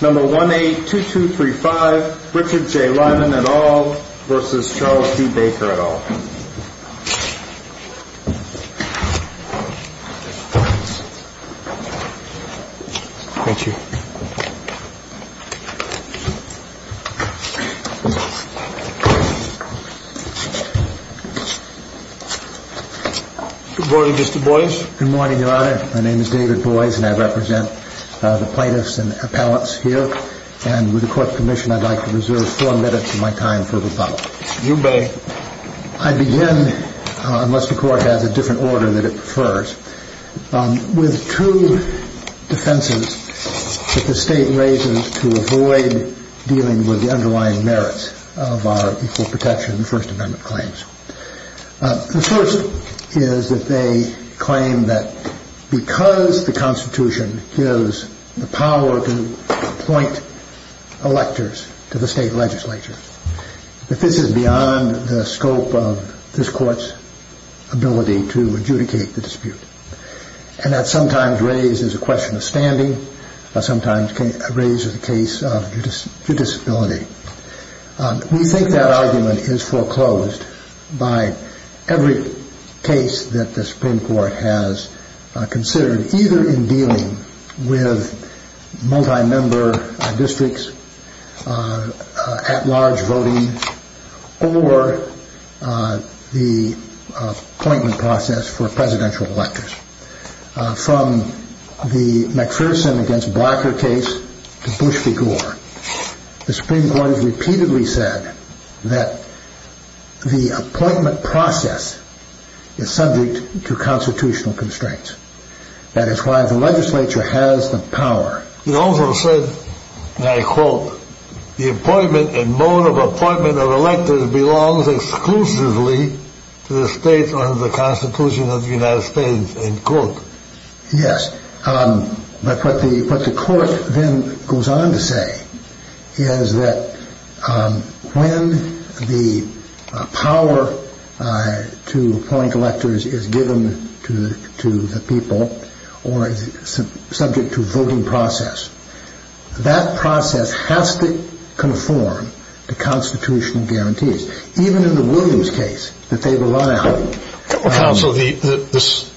182235 Richard J. Lyman et al. v. Charles D. Baker et al. Good morning, Mr. Boies. Good morning, Your Honor. My name is David Boies, and I represent the plaintiffs and appellants here. And with the Court of Commission, I'd like to reserve four minutes of my time for rebuttal. You may. I begin, unless the Court has a different order that it prefers, with two defenses that the State raises to avoid dealing with the underlying merits of our Equal Protection and First Amendment claims. The first is that they claim that because the Constitution gives the power to appoint electors to the State legislature, that this is beyond the scope of this Court's ability to adjudicate the dispute. And that's sometimes raised as a question of standing, but sometimes raised as a case of judicability. We think that argument is foreclosed by every case that the Supreme Court has considered, either in dealing with multi-member districts, at-large voting, or the appointment process for presidential electors. From the McPherson against Barker case to Bush v. Gore, the Supreme Court has repeatedly said that the appointment process is subject to constitutional constraints. That is why the legislature has the power. It also said, and I quote, the appointment and mode of appointment of electors belongs exclusively to the States under the Constitution of the United States, end quote. Yes, but what the Court then goes on to say is that when the power to appoint electors is given to the people, or is subject to a voting process, that process has to conform to constitutional guarantees, even in the Williams case that they relied on. Counsel, this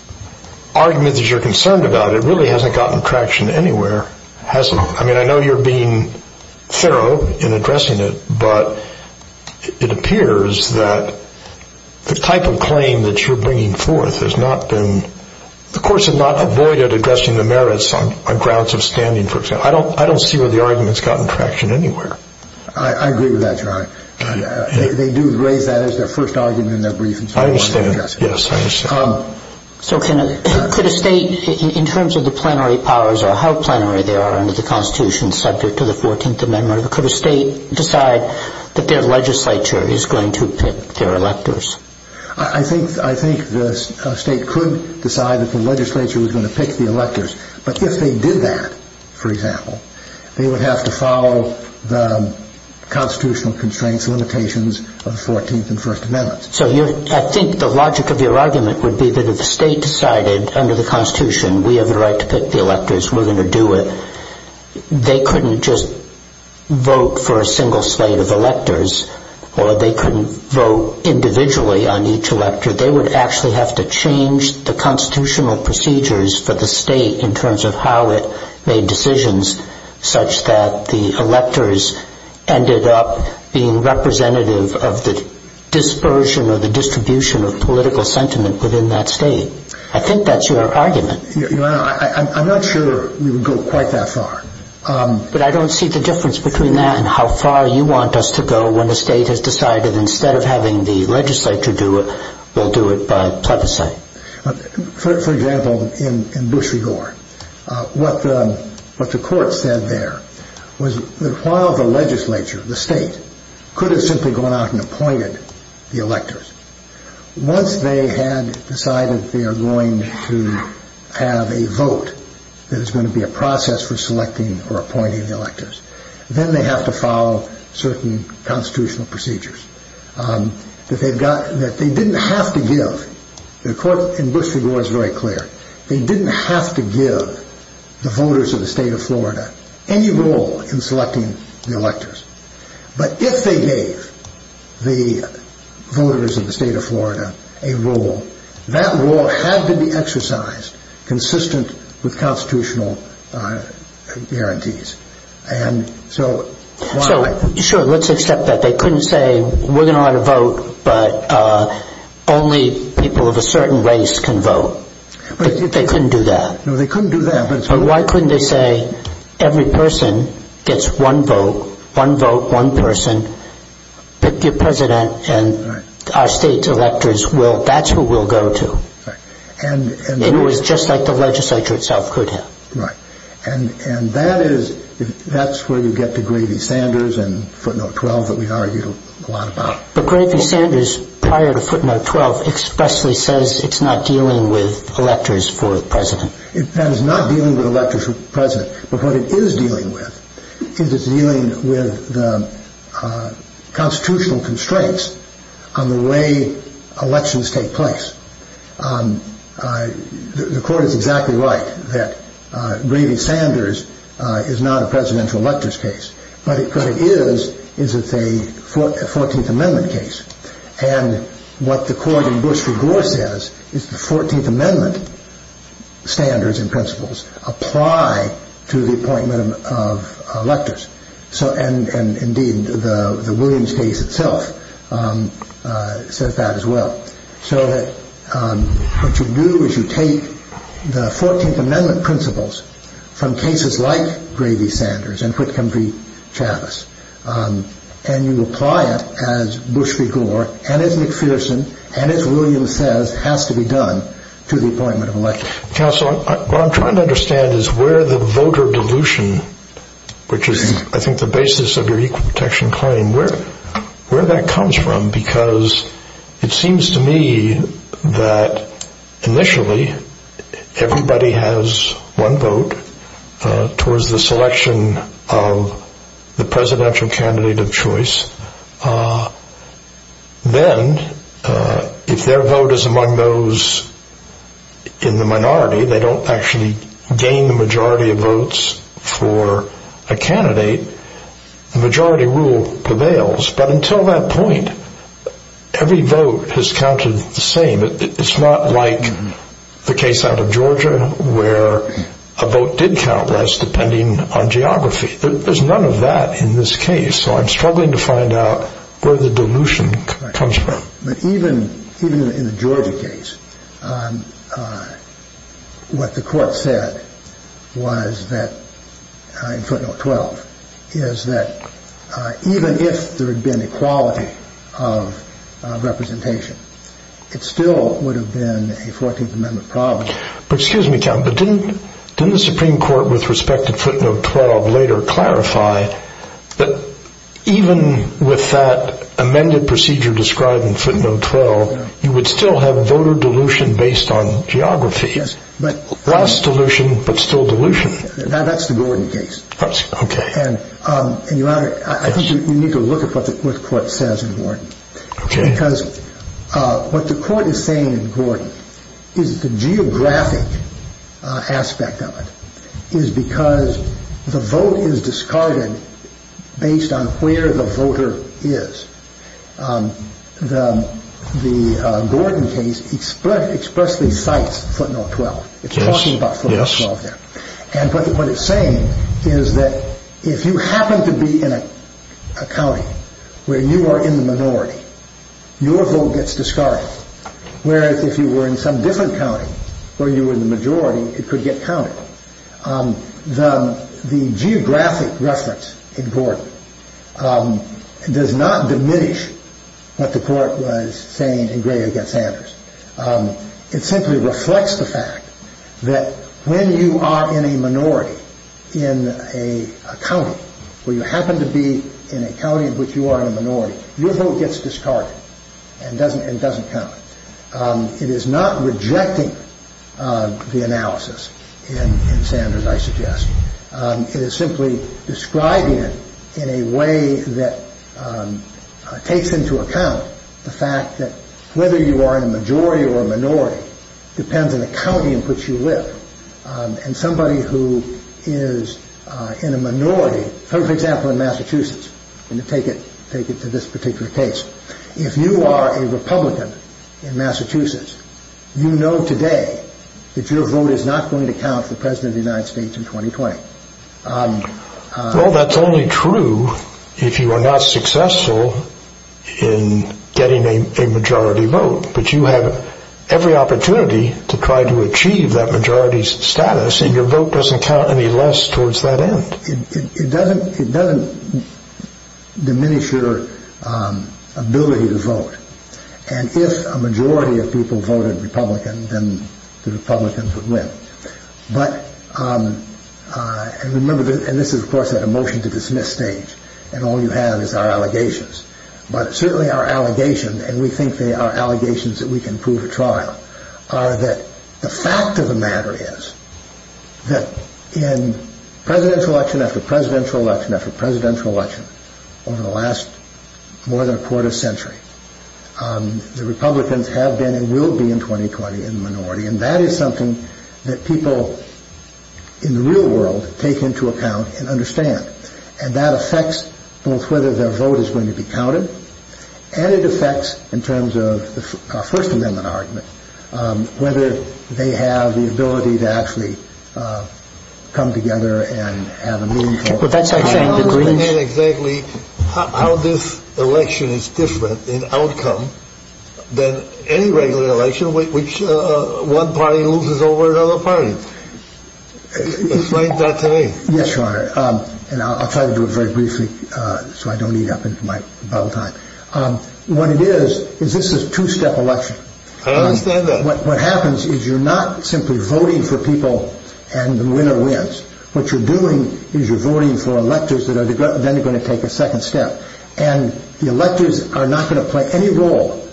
argument that you're concerned about, it really hasn't gotten traction anywhere. I mean, I know you're being thorough in addressing it, but it appears that the type of claim that you're bringing forth has not been, the Court has not avoided addressing the merits on grounds of standing, for example. I don't see where the argument has gotten traction anywhere. I agree with that, Your Honor. They do raise that as their first argument in their brief. I understand. Yes, I understand. So could a State, in terms of the plenary powers or how plenary they are under the Constitution, subject to the 14th Amendment, could a State decide that their legislature is going to pick their electors? I think the State could decide that the legislature was going to pick the electors, but if they did that, for example, they would have to follow the constitutional constraints, limitations of the 14th and First Amendments. So I think the logic of your argument would be that if the State decided under the Constitution we have a right to pick the electors, we're going to do it, they couldn't just vote for a single slate of electors, or they couldn't vote individually on each elector. They would actually have to change the constitutional procedures for the State in terms of how it made decisions such that the electors ended up being representative of the dispersion or the distribution of political sentiment within that State. I think that's your argument. Your Honor, I'm not sure we would go quite that far. But I don't see the difference between that and how far you want us to go when the State has decided instead of having the legislature do it, we'll do it by plebiscite. For example, in Bush v. Gore, what the Court said there was that while the legislature, the State, could have simply gone out and appointed the electors, once they had decided they are going to have a vote that is going to be a process for selecting or appointing the electors, then they have to follow certain constitutional procedures that they didn't have to give. The Court in Bush v. Gore is very clear. They didn't have to give the voters of the State of Florida any role in selecting the electors. But if they gave the voters of the State of Florida a role, that role had to be exercised consistent with constitutional guarantees. So, sure, let's accept that. They couldn't say, we're going to have a vote, but only people of a certain race can vote. They couldn't do that. No, they couldn't do that. But why couldn't they say, every person gets one vote, one vote, one person, pick your president, and our State's electors, that's who we'll go to. And it was just like the legislature itself could have. Right. And that's where you get to Gravy-Sanders and footnote 12 that we argued a lot about. But Gravy-Sanders, prior to footnote 12, expressly says it's not dealing with electors for the president. That is not dealing with electors for the president. But what it is dealing with is it's dealing with the constitutional constraints on the way elections take place. The court is exactly right that Gravy-Sanders is not a presidential electors case. But what it is is it's a 14th Amendment case. And what the court in Bush v. Gore says is the 14th Amendment standards and principles apply to the appointment of electors. And indeed, the Williams case itself says that as well. So what you do is you take the 14th Amendment principles from cases like Gravy-Sanders and Whitcomb v. Chavez, and you apply it as Bush v. Gore and as McPherson and as Williams says has to be done to the appointment of electors. Counsel, what I'm trying to understand is where the voter dilution, which is I think the basis of your equal protection claim, where that comes from because it seems to me that initially everybody has one vote towards the selection of the presidential candidate of choice. Then if their vote is among those in the minority, they don't actually gain the majority of votes for a candidate. The majority rule prevails. But until that point, every vote has counted the same. It's not like the case out of Georgia where a vote did count less depending on geography. There's none of that in this case. So I'm struggling to find out where the dilution comes from. But even in the Georgia case, what the court said in footnote 12 is that even if there had been equality of representation, it still would have been a 14th Amendment problem. Excuse me, but didn't the Supreme Court with respect to footnote 12 later clarify that even with that amended procedure described in footnote 12, you would still have voter dilution based on geography, less dilution but still dilution. That's the Gordon case. I think you need to look at what the court says in Gordon. Because what the court is saying in Gordon is the geographic aspect of it is because the vote is discarded based on where the voter is. The Gordon case expressly cites footnote 12. It's talking about footnote 12 there. And what it's saying is that if you happen to be in a county where you are in the minority, your vote gets discarded. Whereas if you were in some different county where you were in the majority, it could get counted. The geographic reference in Gordon does not diminish what the court was saying in Gray against Sanders. It simply reflects the fact that when you are in a minority in a county where you happen to be in a county in which you are in a minority, your vote gets discarded and doesn't count. It is not rejecting the analysis in Sanders, I suggest. It is simply describing it in a way that takes into account the fact that whether you are in a majority or a minority depends on the county in which you live. And somebody who is in a minority, for example, in Massachusetts, and to take it to this particular case, if you are a Republican in Massachusetts, you know today that your vote is not going to count for President of the United States in 2020. Well, that's only true if you are not successful in getting a majority vote. But you have every opportunity to try to achieve that majority status, and your vote doesn't count any less towards that end. It doesn't diminish your ability to vote. And if a majority of people voted Republican, then the Republicans would win. But remember, and this is of course at a motion to dismiss stage, and all you have is our allegations. But certainly our allegation, and we think they are allegations that we can prove at trial, are that the fact of the matter is that in presidential election after presidential election after presidential election over the last more than a quarter century, the Republicans have been and will be in 2020 in the minority. And that is something that people in the real world take into account and understand. And that affects both whether their vote is going to be counted, and it affects in terms of our First Amendment argument, whether they have the ability to actually come together and have a meaningful outcome. How do you get exactly how this election is different in outcome than any regular election which one party loses over another party? Explain that to me. Yes, Your Honor, and I'll try to do it very briefly so I don't eat up my bubble time. What it is is this is a two-step election. I understand that. What happens is you're not simply voting for people and the winner wins. What you're doing is you're voting for electors that are then going to take a second step. And the electors are not going to play any role.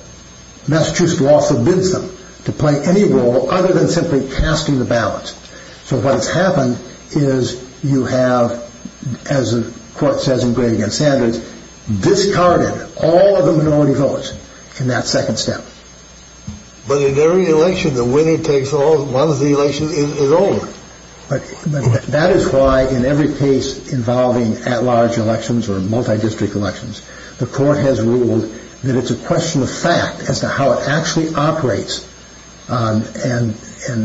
Massachusetts law forbids them to play any role other than simply casting the ballots. So what has happened is you have, as the Court says in Gray v. Sanders, discarded all of the minority voters in that second step. But in every election, the winning takes all. One of the elections is over. That is why in every case involving at-large elections or multi-district elections, the Court has ruled that it's a question of fact as to how it actually operates. And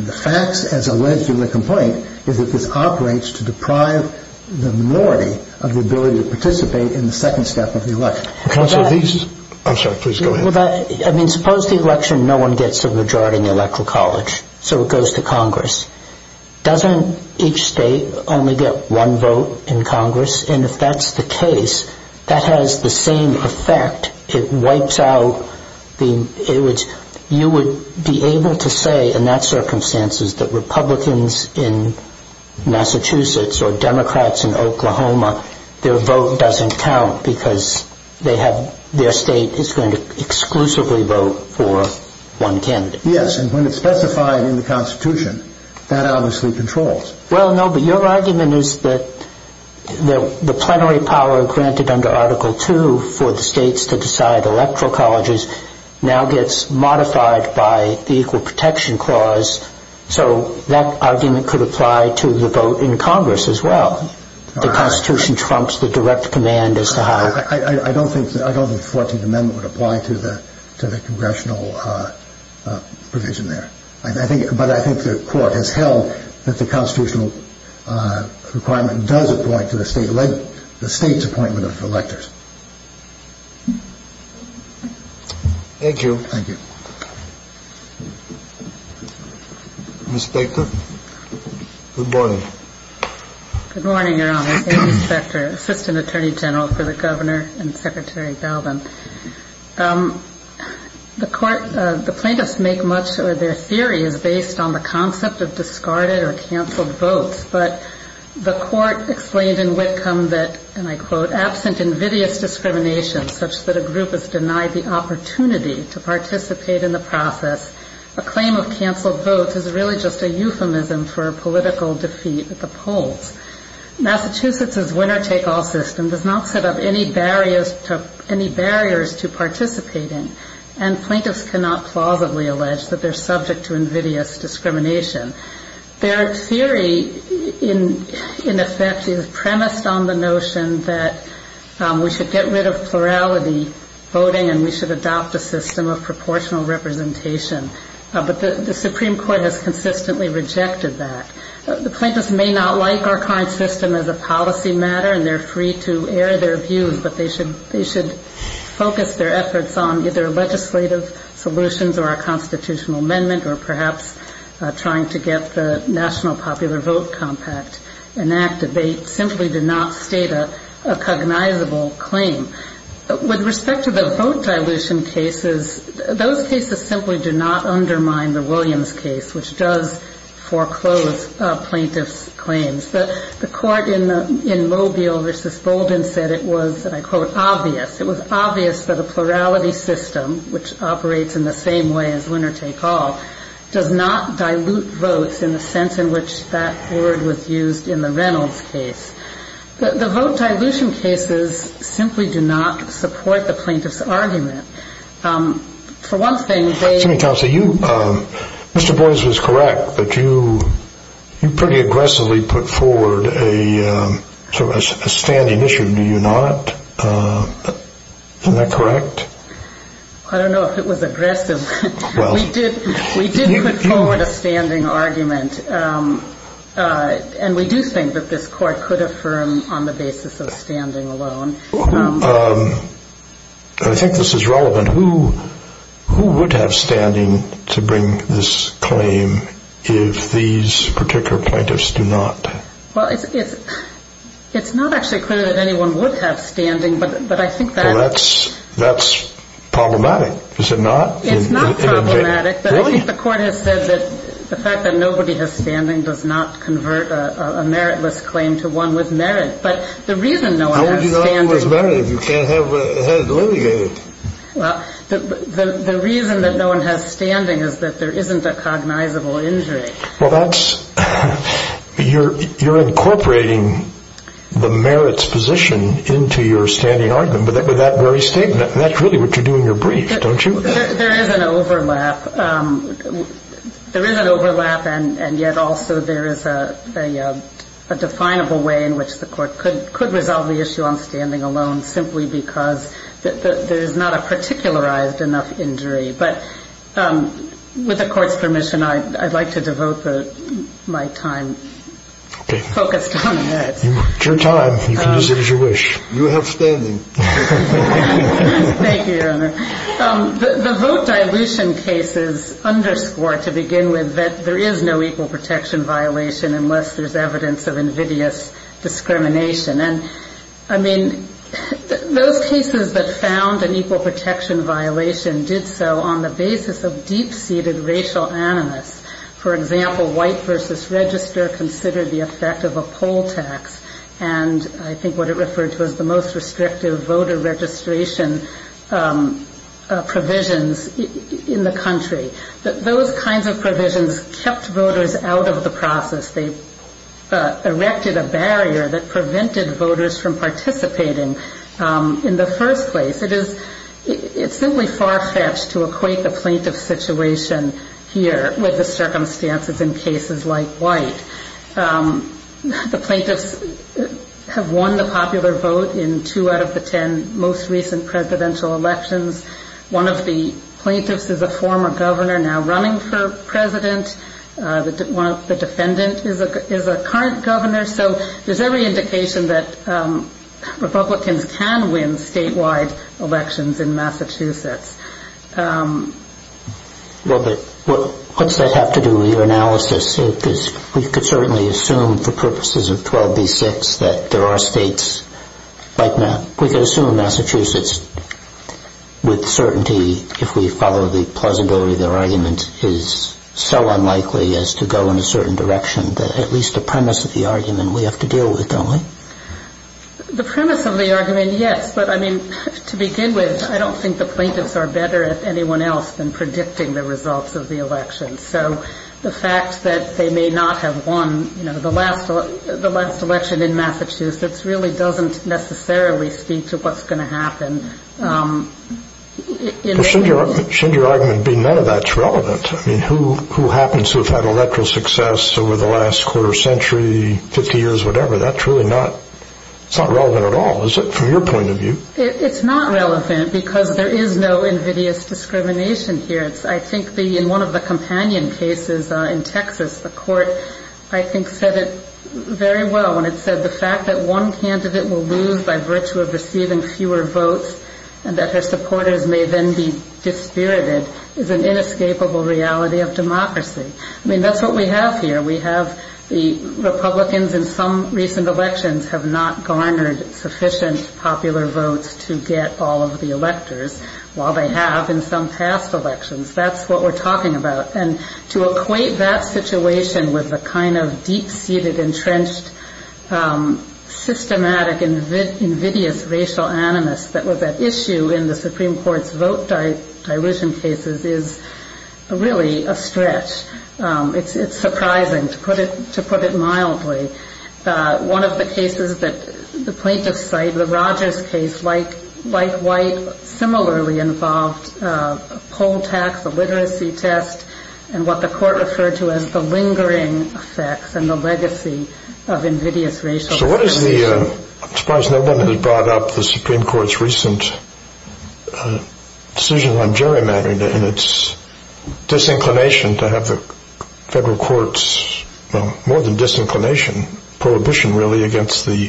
the facts, as alleged in the complaint, is that this operates to deprive the minority of the ability to participate in the second step of the election. Counsel, these... I'm sorry, please go ahead. I mean, suppose the election no one gets a majority in the Electoral College, so it goes to Congress. Doesn't each state only get one vote in Congress? And if that's the case, that has the same effect. It wipes out the... You would be able to say in that circumstance that Republicans in Massachusetts or Democrats in Oklahoma, their vote doesn't count because their state is going to exclusively vote for one candidate. Yes, and when it's specified in the Constitution, that obviously controls. Well, no, but your argument is that the plenary power granted under Article II for the states to decide Electoral Colleges now gets modified by the Equal Protection Clause, so that argument could apply to the vote in Congress as well. The Constitution trumps the direct command as to how... I don't think the 14th Amendment would apply to the congressional provision there. But I think the Court has held that the constitutional requirement does apply to the state's appointment of electors. Thank you. Thank you. Ms. Spector, good morning. Good morning, Your Honor. Amy Spector, Assistant Attorney General for the Governor and Secretary Belden. The plaintiffs make much of their theory is based on the concept of discarded or canceled votes, but the Court explained in Whitcomb that, and I quote, absent invidious discrimination such that a group is denied the opportunity to participate in the process, a claim of canceled votes is really just a euphemism for a political defeat at the polls. Massachusetts's winner-take-all system does not set up any barriers to participating, and plaintiffs cannot plausibly allege that they're subject to invidious discrimination. Their theory, in effect, is premised on the notion that we should get rid of plurality voting and we should adopt a system of proportional representation. But the Supreme Court has consistently rejected that. The plaintiffs may not like our current system as a policy matter, and they're free to air their views, but they should focus their efforts on either legislative solutions or a constitutional amendment or perhaps trying to get the National Popular Vote Compact enacted. They simply do not state a cognizable claim. With respect to the vote dilution cases, those cases simply do not undermine the Williams case, which does foreclose plaintiffs' claims. The court in Mobile v. Bolden said it was, and I quote, obvious. It was obvious that a plurality system, which operates in the same way as winner-take-all, does not dilute votes in the sense in which that word was used in the Reynolds case. The vote dilution cases simply do not support the plaintiffs' argument. For one thing, they ---- Mr. Boies was correct that you pretty aggressively put forward a standing issue, do you not? Isn't that correct? I don't know if it was aggressive. We did put forward a standing argument, and we do think that this court could affirm on the basis of standing alone. I think this is relevant. But who would have standing to bring this claim if these particular plaintiffs do not? Well, it's not actually clear that anyone would have standing, but I think that ---- Well, that's problematic, is it not? It's not problematic, but I think the court has said that the fact that nobody has standing does not convert a meritless claim to one with merit. But the reason no one has standing ---- The reason that no one has standing is that there isn't a cognizable injury. Well, that's ---- You're incorporating the merits position into your standing argument with that very statement, and that's really what you do in your brief, don't you? There is an overlap. There is an overlap, and yet also there is a definable way in which the court could resolve the issue on standing alone simply because there is not a particularized enough injury. But with the court's permission, I'd like to devote my time focused on that. It's your time. You can use it as you wish. You have standing. Thank you, Your Honor. The vote dilution case is underscored to begin with that there is no equal protection violation unless there's evidence of invidious discrimination. And, I mean, those cases that found an equal protection violation did so on the basis of deep-seated racial animus. For example, White v. Register considered the effect of a poll tax and I think what it referred to as the most restrictive voter registration provisions in the country. Those kinds of provisions kept voters out of the process. They erected a barrier that prevented voters from participating in the first place. It's simply far-fetched to equate the plaintiff situation here with the circumstances in cases like White. The plaintiffs have won the popular vote in two out of the ten most recent presidential elections. One of the plaintiffs is a former governor now running for president. The defendant is a current governor. So there's every indication that Republicans can win statewide elections in Massachusetts. Well, but what does that have to do with your analysis? We could certainly assume for purposes of 12b-6 that there are states like Massachusetts. With certainty, if we follow the plausibility of their argument, it is so unlikely as to go in a certain direction that at least the premise of the argument we have to deal with, don't we? The premise of the argument, yes. But, I mean, to begin with, I don't think the plaintiffs are better at anyone else than predicting the results of the election. So the fact that they may not have won the last election in Massachusetts really doesn't necessarily speak to what's going to happen. Shouldn't your argument be none of that's relevant? I mean, who happens to have had electoral success over the last quarter century, 50 years, whatever? That's really not relevant at all, is it, from your point of view? It's not relevant because there is no invidious discrimination here. I think in one of the companion cases in Texas, the court, I think, said it very well when it said the fact that one candidate will lose by virtue of receiving fewer votes and that her supporters may then be dispirited is an inescapable reality of democracy. I mean, that's what we have here. We have the Republicans in some recent elections have not garnered sufficient popular votes to get all of the electors, while they have in some past elections. That's what we're talking about. And to equate that situation with the kind of deep-seated, entrenched, systematic, invidious racial animus that was at issue in the Supreme Court's vote dilution cases is really a stretch. It's surprising, to put it mildly. One of the cases that the plaintiffs cite, the Rogers case, like White, similarly involved poll tax, the literacy test, and what the court referred to as the lingering effects and the legacy of invidious racial discrimination. I'm surprised no one has brought up the Supreme Court's recent decision on gerrymandering and its disinclination to have the federal courts, well, more than disinclination, prohibition, really, against the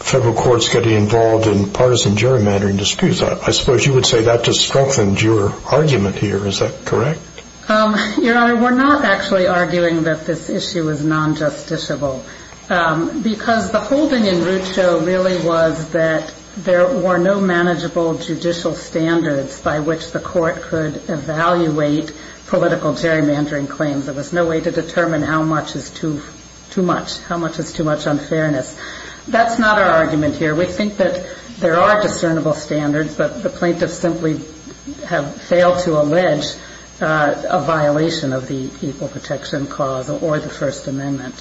federal courts getting involved in partisan gerrymandering disputes. I suppose you would say that just strengthened your argument here. Is that correct? Your Honor, we're not actually arguing that this issue is non-justiciable, because the holding in Rucho really was that there were no manageable judicial standards by which the court could evaluate political gerrymandering claims. There was no way to determine how much is too much, how much is too much unfairness. That's not our argument here. We think that there are discernible standards, but the plaintiffs simply have failed to allege a violation of the Equal Protection Clause or the First Amendment.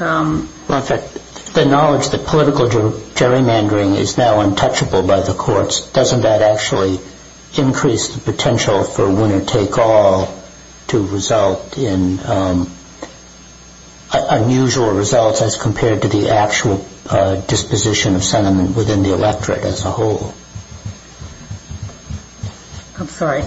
Well, in fact, the knowledge that political gerrymandering is now untouchable by the courts, doesn't that actually increase the potential for winner-take-all to result in unusual results as compared to the actual disposition of sentiment within the electorate as a whole? I'm sorry.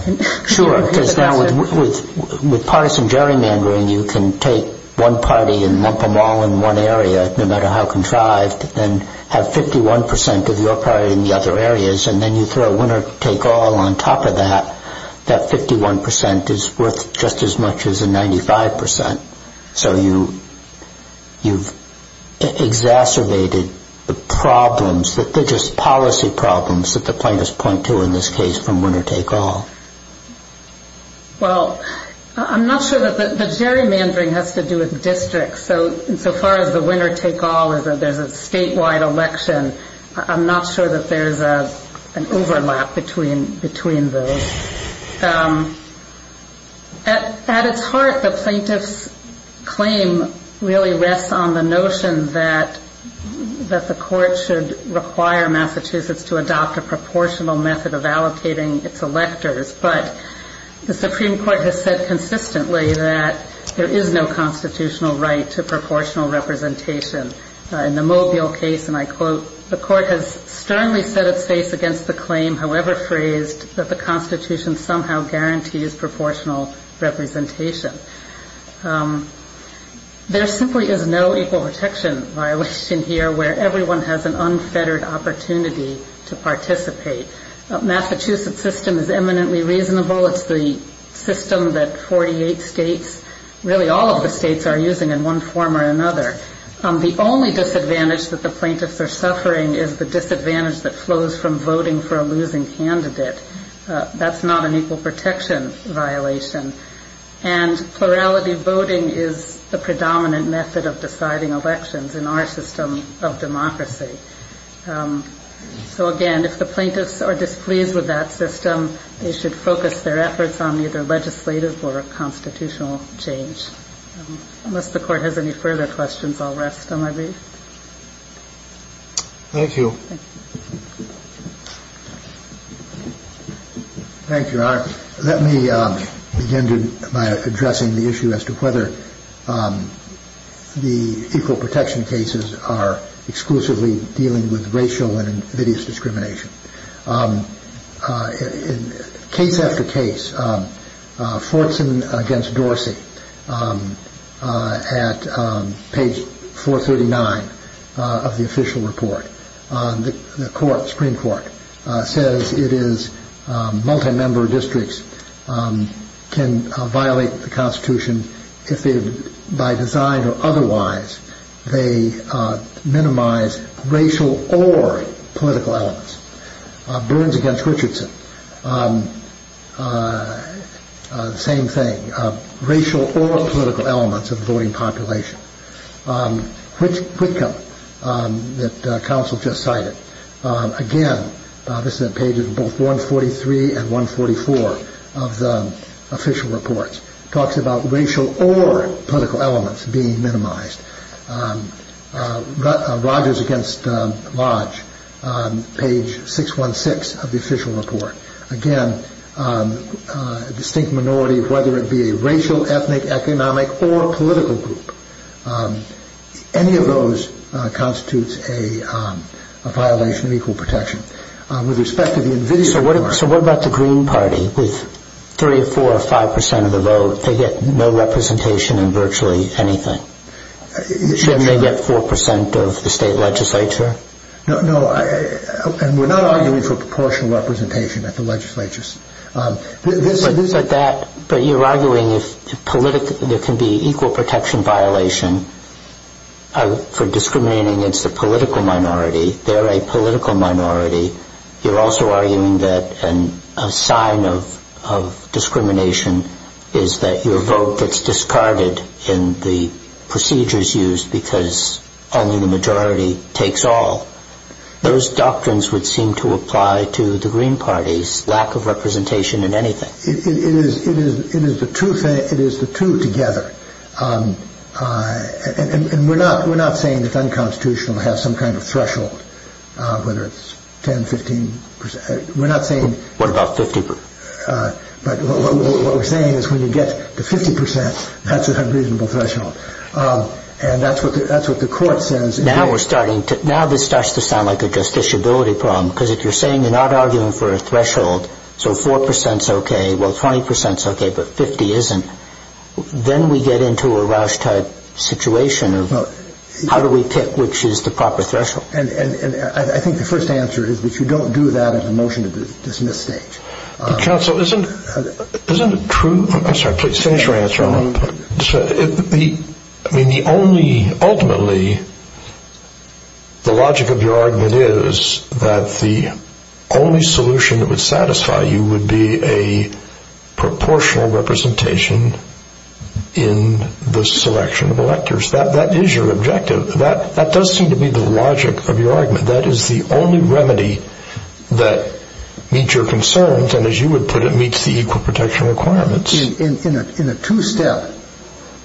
Sure, because now with partisan gerrymandering, you can take one party and lump them all in one area no matter how contrived and have 51 percent of your party in the other areas, and then you throw winner-take-all on top of that. That 51 percent is worth just as much as the 95 percent. So you've exacerbated the problems that they're just policy problems that the plaintiffs point to in this case from winner-take-all. Well, I'm not sure that the gerrymandering has to do with districts. So far as the winner-take-all, there's a statewide election. I'm not sure that there's an overlap between those. At its heart, the plaintiff's claim really rests on the notion that the court should require Massachusetts to adopt a proportional method of allocating its electors, but the Supreme Court has said consistently that there is no constitutional right to proportional representation. In the Mobile case, and I quote, the court has sternly set its face against the claim, however phrased, that the Constitution somehow guarantees proportional representation. There simply is no equal protection violation here where everyone has an unfettered opportunity to participate. The Massachusetts system is eminently reasonable. It's the system that 48 states, really all of the states, are using in one form or another. The only disadvantage that the plaintiffs are suffering is the disadvantage that flows from voting for a losing candidate. That's not an equal protection violation. And plurality voting is the predominant method of deciding elections in our system of democracy. So again, if the plaintiffs are displeased with that system, they should focus their efforts on either legislative or constitutional change. Unless the court has any further questions, I'll rest on my brief. Thank you. Thank you, Your Honor. Let me begin by addressing the issue as to whether the equal protection cases are exclusively dealing with racial and invidious discrimination. Case after case, Fortson v. Dorsey, at page 439 of the official report, the Supreme Court says it is multi-member districts can violate the Constitution if, by design or otherwise, they minimize racial or political elements. Burns v. Richardson, same thing, racial or political elements of the voting population. Whitcomb, that counsel just cited, again, this is at pages 143 and 144 of the official report, talks about racial or political elements being minimized. Rogers v. Lodge, page 616 of the official report. Again, a distinct minority, whether it be a racial, ethnic, economic, or political group. Any of those constitutes a violation of equal protection. So what about the Green Party? With 3, 4, or 5% of the vote, they get no representation in virtually anything. Shouldn't they get 4% of the state legislature? No, and we're not arguing for proportional representation at the legislatures. But you're arguing if there can be equal protection violation for discriminating against a political minority, they're a political minority, you're also arguing that a sign of discrimination is that your vote gets discarded in the procedures used because only the majority takes all. Those doctrines would seem to apply to the Green Party's lack of representation in anything. It is the two together. And we're not saying it's unconstitutional to have some kind of threshold, whether it's 10%, 15%. What about 50%? What we're saying is when you get to 50%, that's a reasonable threshold. And that's what the court says. Now this starts to sound like a justiciability problem, because if you're saying you're not arguing for a threshold, so 4% is okay, well, 20% is okay, but 50 isn't, then we get into a Roush type situation of how do we pick which is the proper threshold? And I think the first answer is that you don't do that at the motion to dismiss stage. Counsel, isn't it true? I'm sorry, please finish your answer. Ultimately, the logic of your argument is that the only solution that would satisfy you would be a proportional representation in the selection of electors. That is your objective. That does seem to be the logic of your argument. That is the only remedy that meets your concerns, and as you would put it, meets the equal protection requirements. In a two-step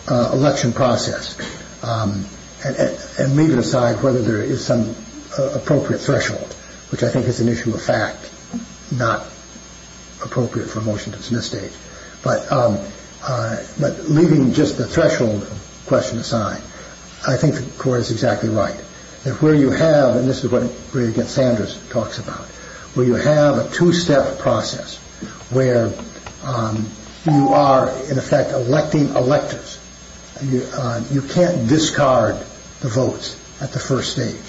election process, and leaving aside whether there is some appropriate threshold, which I think is an issue of fact, not appropriate for a motion to dismiss stage, but leaving just the threshold question aside, I think the court is exactly right. Where you have, and this is what Greg Sanders talks about, where you have a two-step process where you are, in effect, electing electors. You can't discard the votes at the first stage.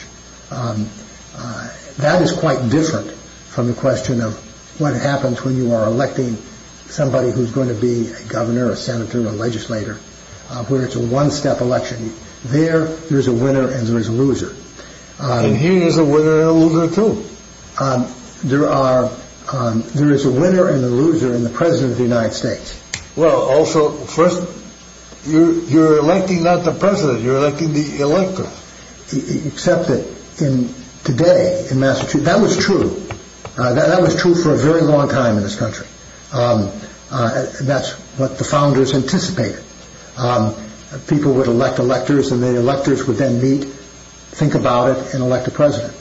That is quite different from the question of what happens when you are electing somebody who's going to be a governor, a senator, a legislator, where it's a one-step election. There, there's a winner and there's a loser. And here there's a winner and a loser, too. There is a winner and a loser in the president of the United States. Well, also, first, you're electing not the president, you're electing the elector. Except that today in Massachusetts, that was true. That was true for a very long time in this country. That's what the founders anticipated. People would elect electors and the electors would then meet, think about it, and elect a president.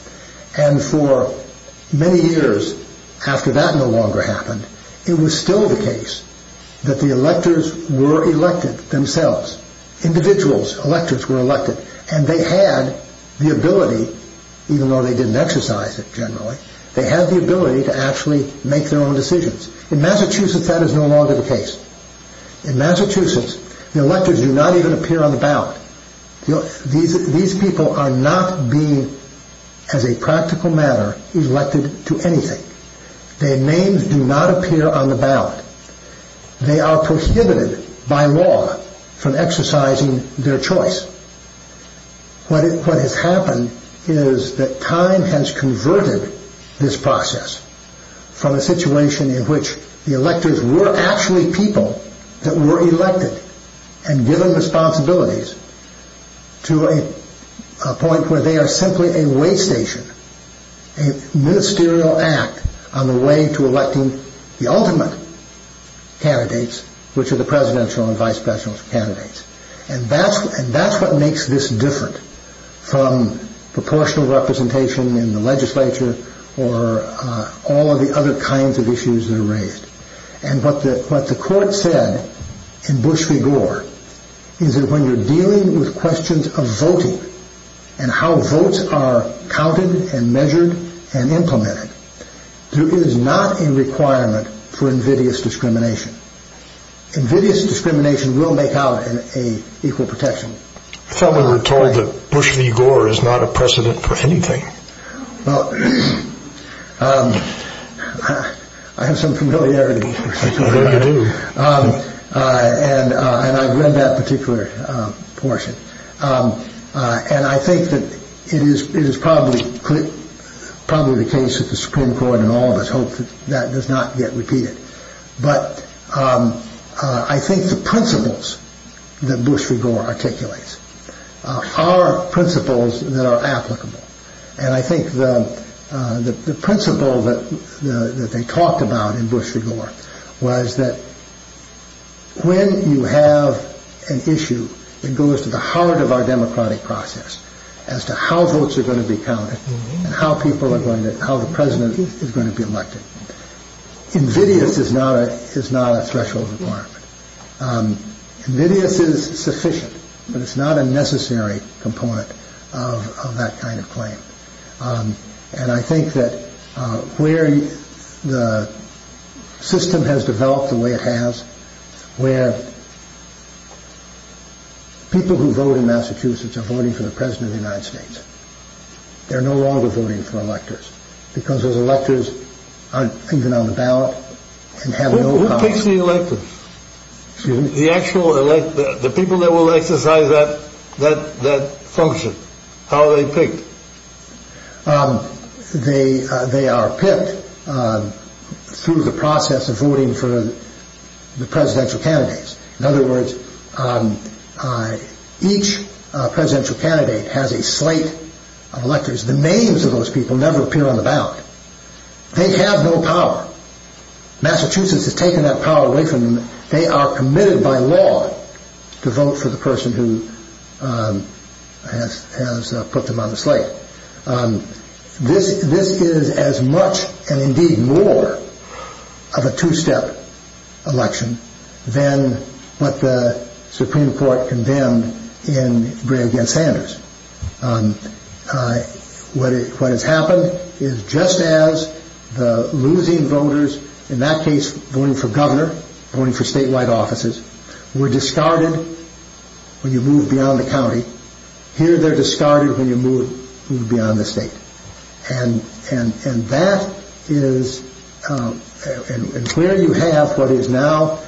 And for many years after that no longer happened, it was still the case that the electors were elected themselves. Individuals, electors, were elected and they had the ability, even though they didn't exercise it generally, they had the ability to actually make their own decisions. In Massachusetts that is no longer the case. In Massachusetts, the electors do not even appear on the ballot. These people are not being, as a practical matter, elected to anything. Their names do not appear on the ballot. They are prohibited by law from exercising their choice. What has happened is that time has converted this process from a situation in which the electors were actually people that were elected and given responsibilities to a point where they are simply a way station, a ministerial act on the way to electing the ultimate candidates, which are the presidential and vice presidential candidates. And that's what makes this different from proportional representation in the legislature or all of the other kinds of issues that are raised. And what the court said in Bush v. Gore is that when you're dealing with questions of voting and how votes are counted and measured and implemented, there is not a requirement for invidious discrimination. Invidious discrimination will make out an equal protection. I thought we were told that Bush v. Gore is not a precedent for anything. Well, I have some familiarity. I do. And I've read that particular portion. And I think that it is probably the case that the Supreme Court and all of us hope that that does not get repeated. But I think the principles that Bush v. Gore articulates are principles that are applicable. And I think the principle that they talked about in Bush v. Gore was that when you have an issue, it goes to the heart of our democratic process as to how votes are going to be counted and how people are going to how the president is going to be elected. Invidious is not a threshold requirement. Invidious is sufficient, but it's not a necessary component of that kind of claim. And I think that where the system has developed the way it has, where people who vote in Massachusetts are voting for the president of the United States, they're no longer voting for electors because those electors aren't even on the ballot. Who picks the electors? The people that will exercise that function. How are they picked? They are picked through the process of voting for the presidential candidates. In other words, each presidential candidate has a slate of electors. The names of those people never appear on the ballot. They have no power. Massachusetts has taken that power away from them. They are committed by law to vote for the person who has put them on the slate. This is as much and indeed more of a two-step election than what the Supreme Court condemned in Gray v. Sanders. What has happened is just as the losing voters, in that case voting for governor, voting for statewide offices, were discarded when you moved beyond the county, here they're discarded when you move beyond the state. And where you have what is now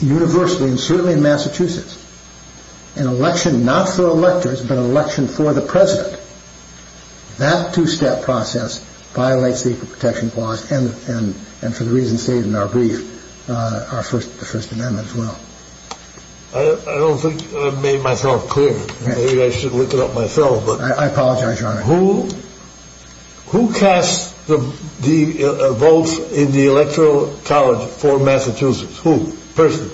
universally and certainly in Massachusetts, an election not for electors but an election for the president. That two-step process violates the Equal Protection Clause and for the reasons stated in our brief, our First Amendment as well. I don't think I've made myself clear. Maybe I should look it up myself. I apologize, Your Honor. Who casts the votes in the electoral college for Massachusetts? Who? Person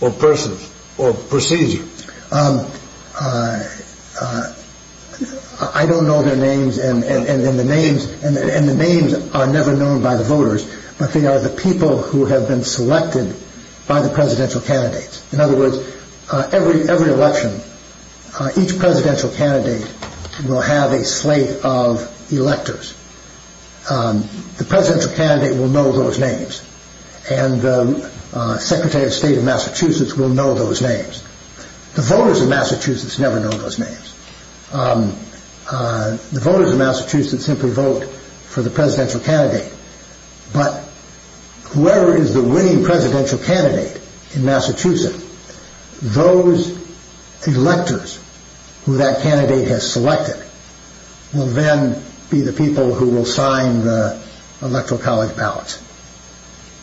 or persons or procedure? I don't know their names and the names are never known by the voters, but they are the people who have been selected by the presidential candidates. In other words, every election, each presidential candidate will have a slate of electors. The presidential candidate will know those names. And the Secretary of State of Massachusetts will know those names. The voters of Massachusetts never know those names. The voters of Massachusetts simply vote for the presidential candidate, but whoever is the winning presidential candidate in Massachusetts, those electors who that candidate has selected will then be the people who will sign the electoral college ballots,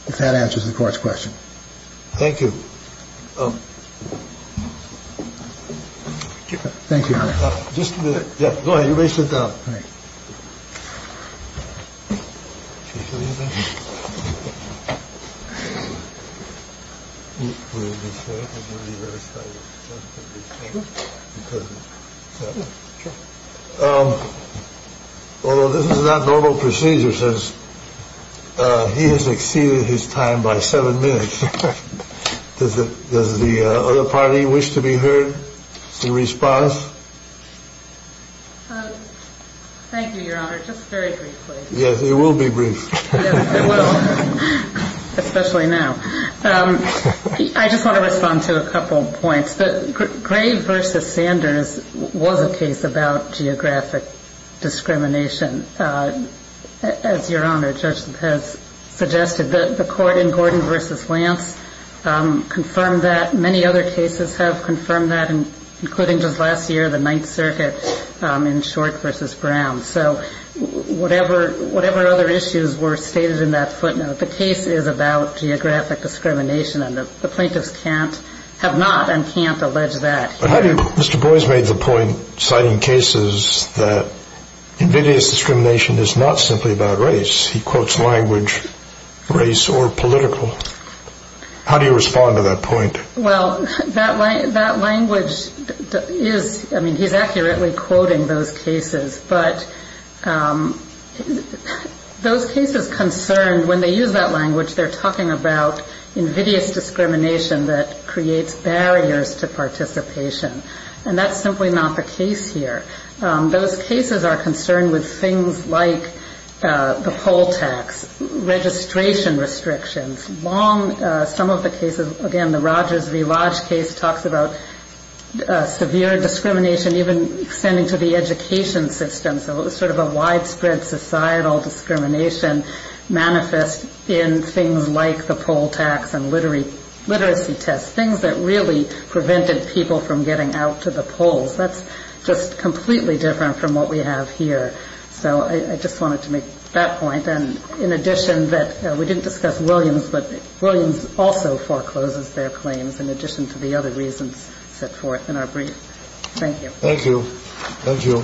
if that answers the Court's question. Thank you. Thank you, Your Honor. Just a minute. All right. Can you hear me now? Well, this is not normal procedure since he has exceeded his time by seven minutes. Does the other party wish to be heard in response? Thank you, Your Honor. Just very briefly. Yes, it will be brief. It will, especially now. I just want to respond to a couple of points. Gray v. Sanders was a case about geographic discrimination, as Your Honor, Judge has suggested. The court in Gordon v. Lance confirmed that. Including just last year, the Ninth Circuit in Short v. Brown. So whatever other issues were stated in that footnote, the case is about geographic discrimination, and the plaintiffs have not and can't allege that here. Mr. Boies made the point, citing cases, that invidious discrimination is not simply about race. He quotes language, race or political. How do you respond to that point? Well, that language is, I mean, he's accurately quoting those cases. But those cases concerned, when they use that language, they're talking about invidious discrimination that creates barriers to participation. And that's simply not the case here. Those cases are concerned with things like the poll tax, registration restrictions, some of the cases, again, the Rogers v. Lodge case talks about severe discrimination, even extending to the education system. So it was sort of a widespread societal discrimination manifest in things like the poll tax and literacy tests, things that really prevented people from getting out to the polls. That's just completely different from what we have here. So I just wanted to make that point. And in addition, we didn't discuss Williams, but Williams also forecloses their claims in addition to the other reasons set forth in our brief. Thank you. Thank you. Thank you.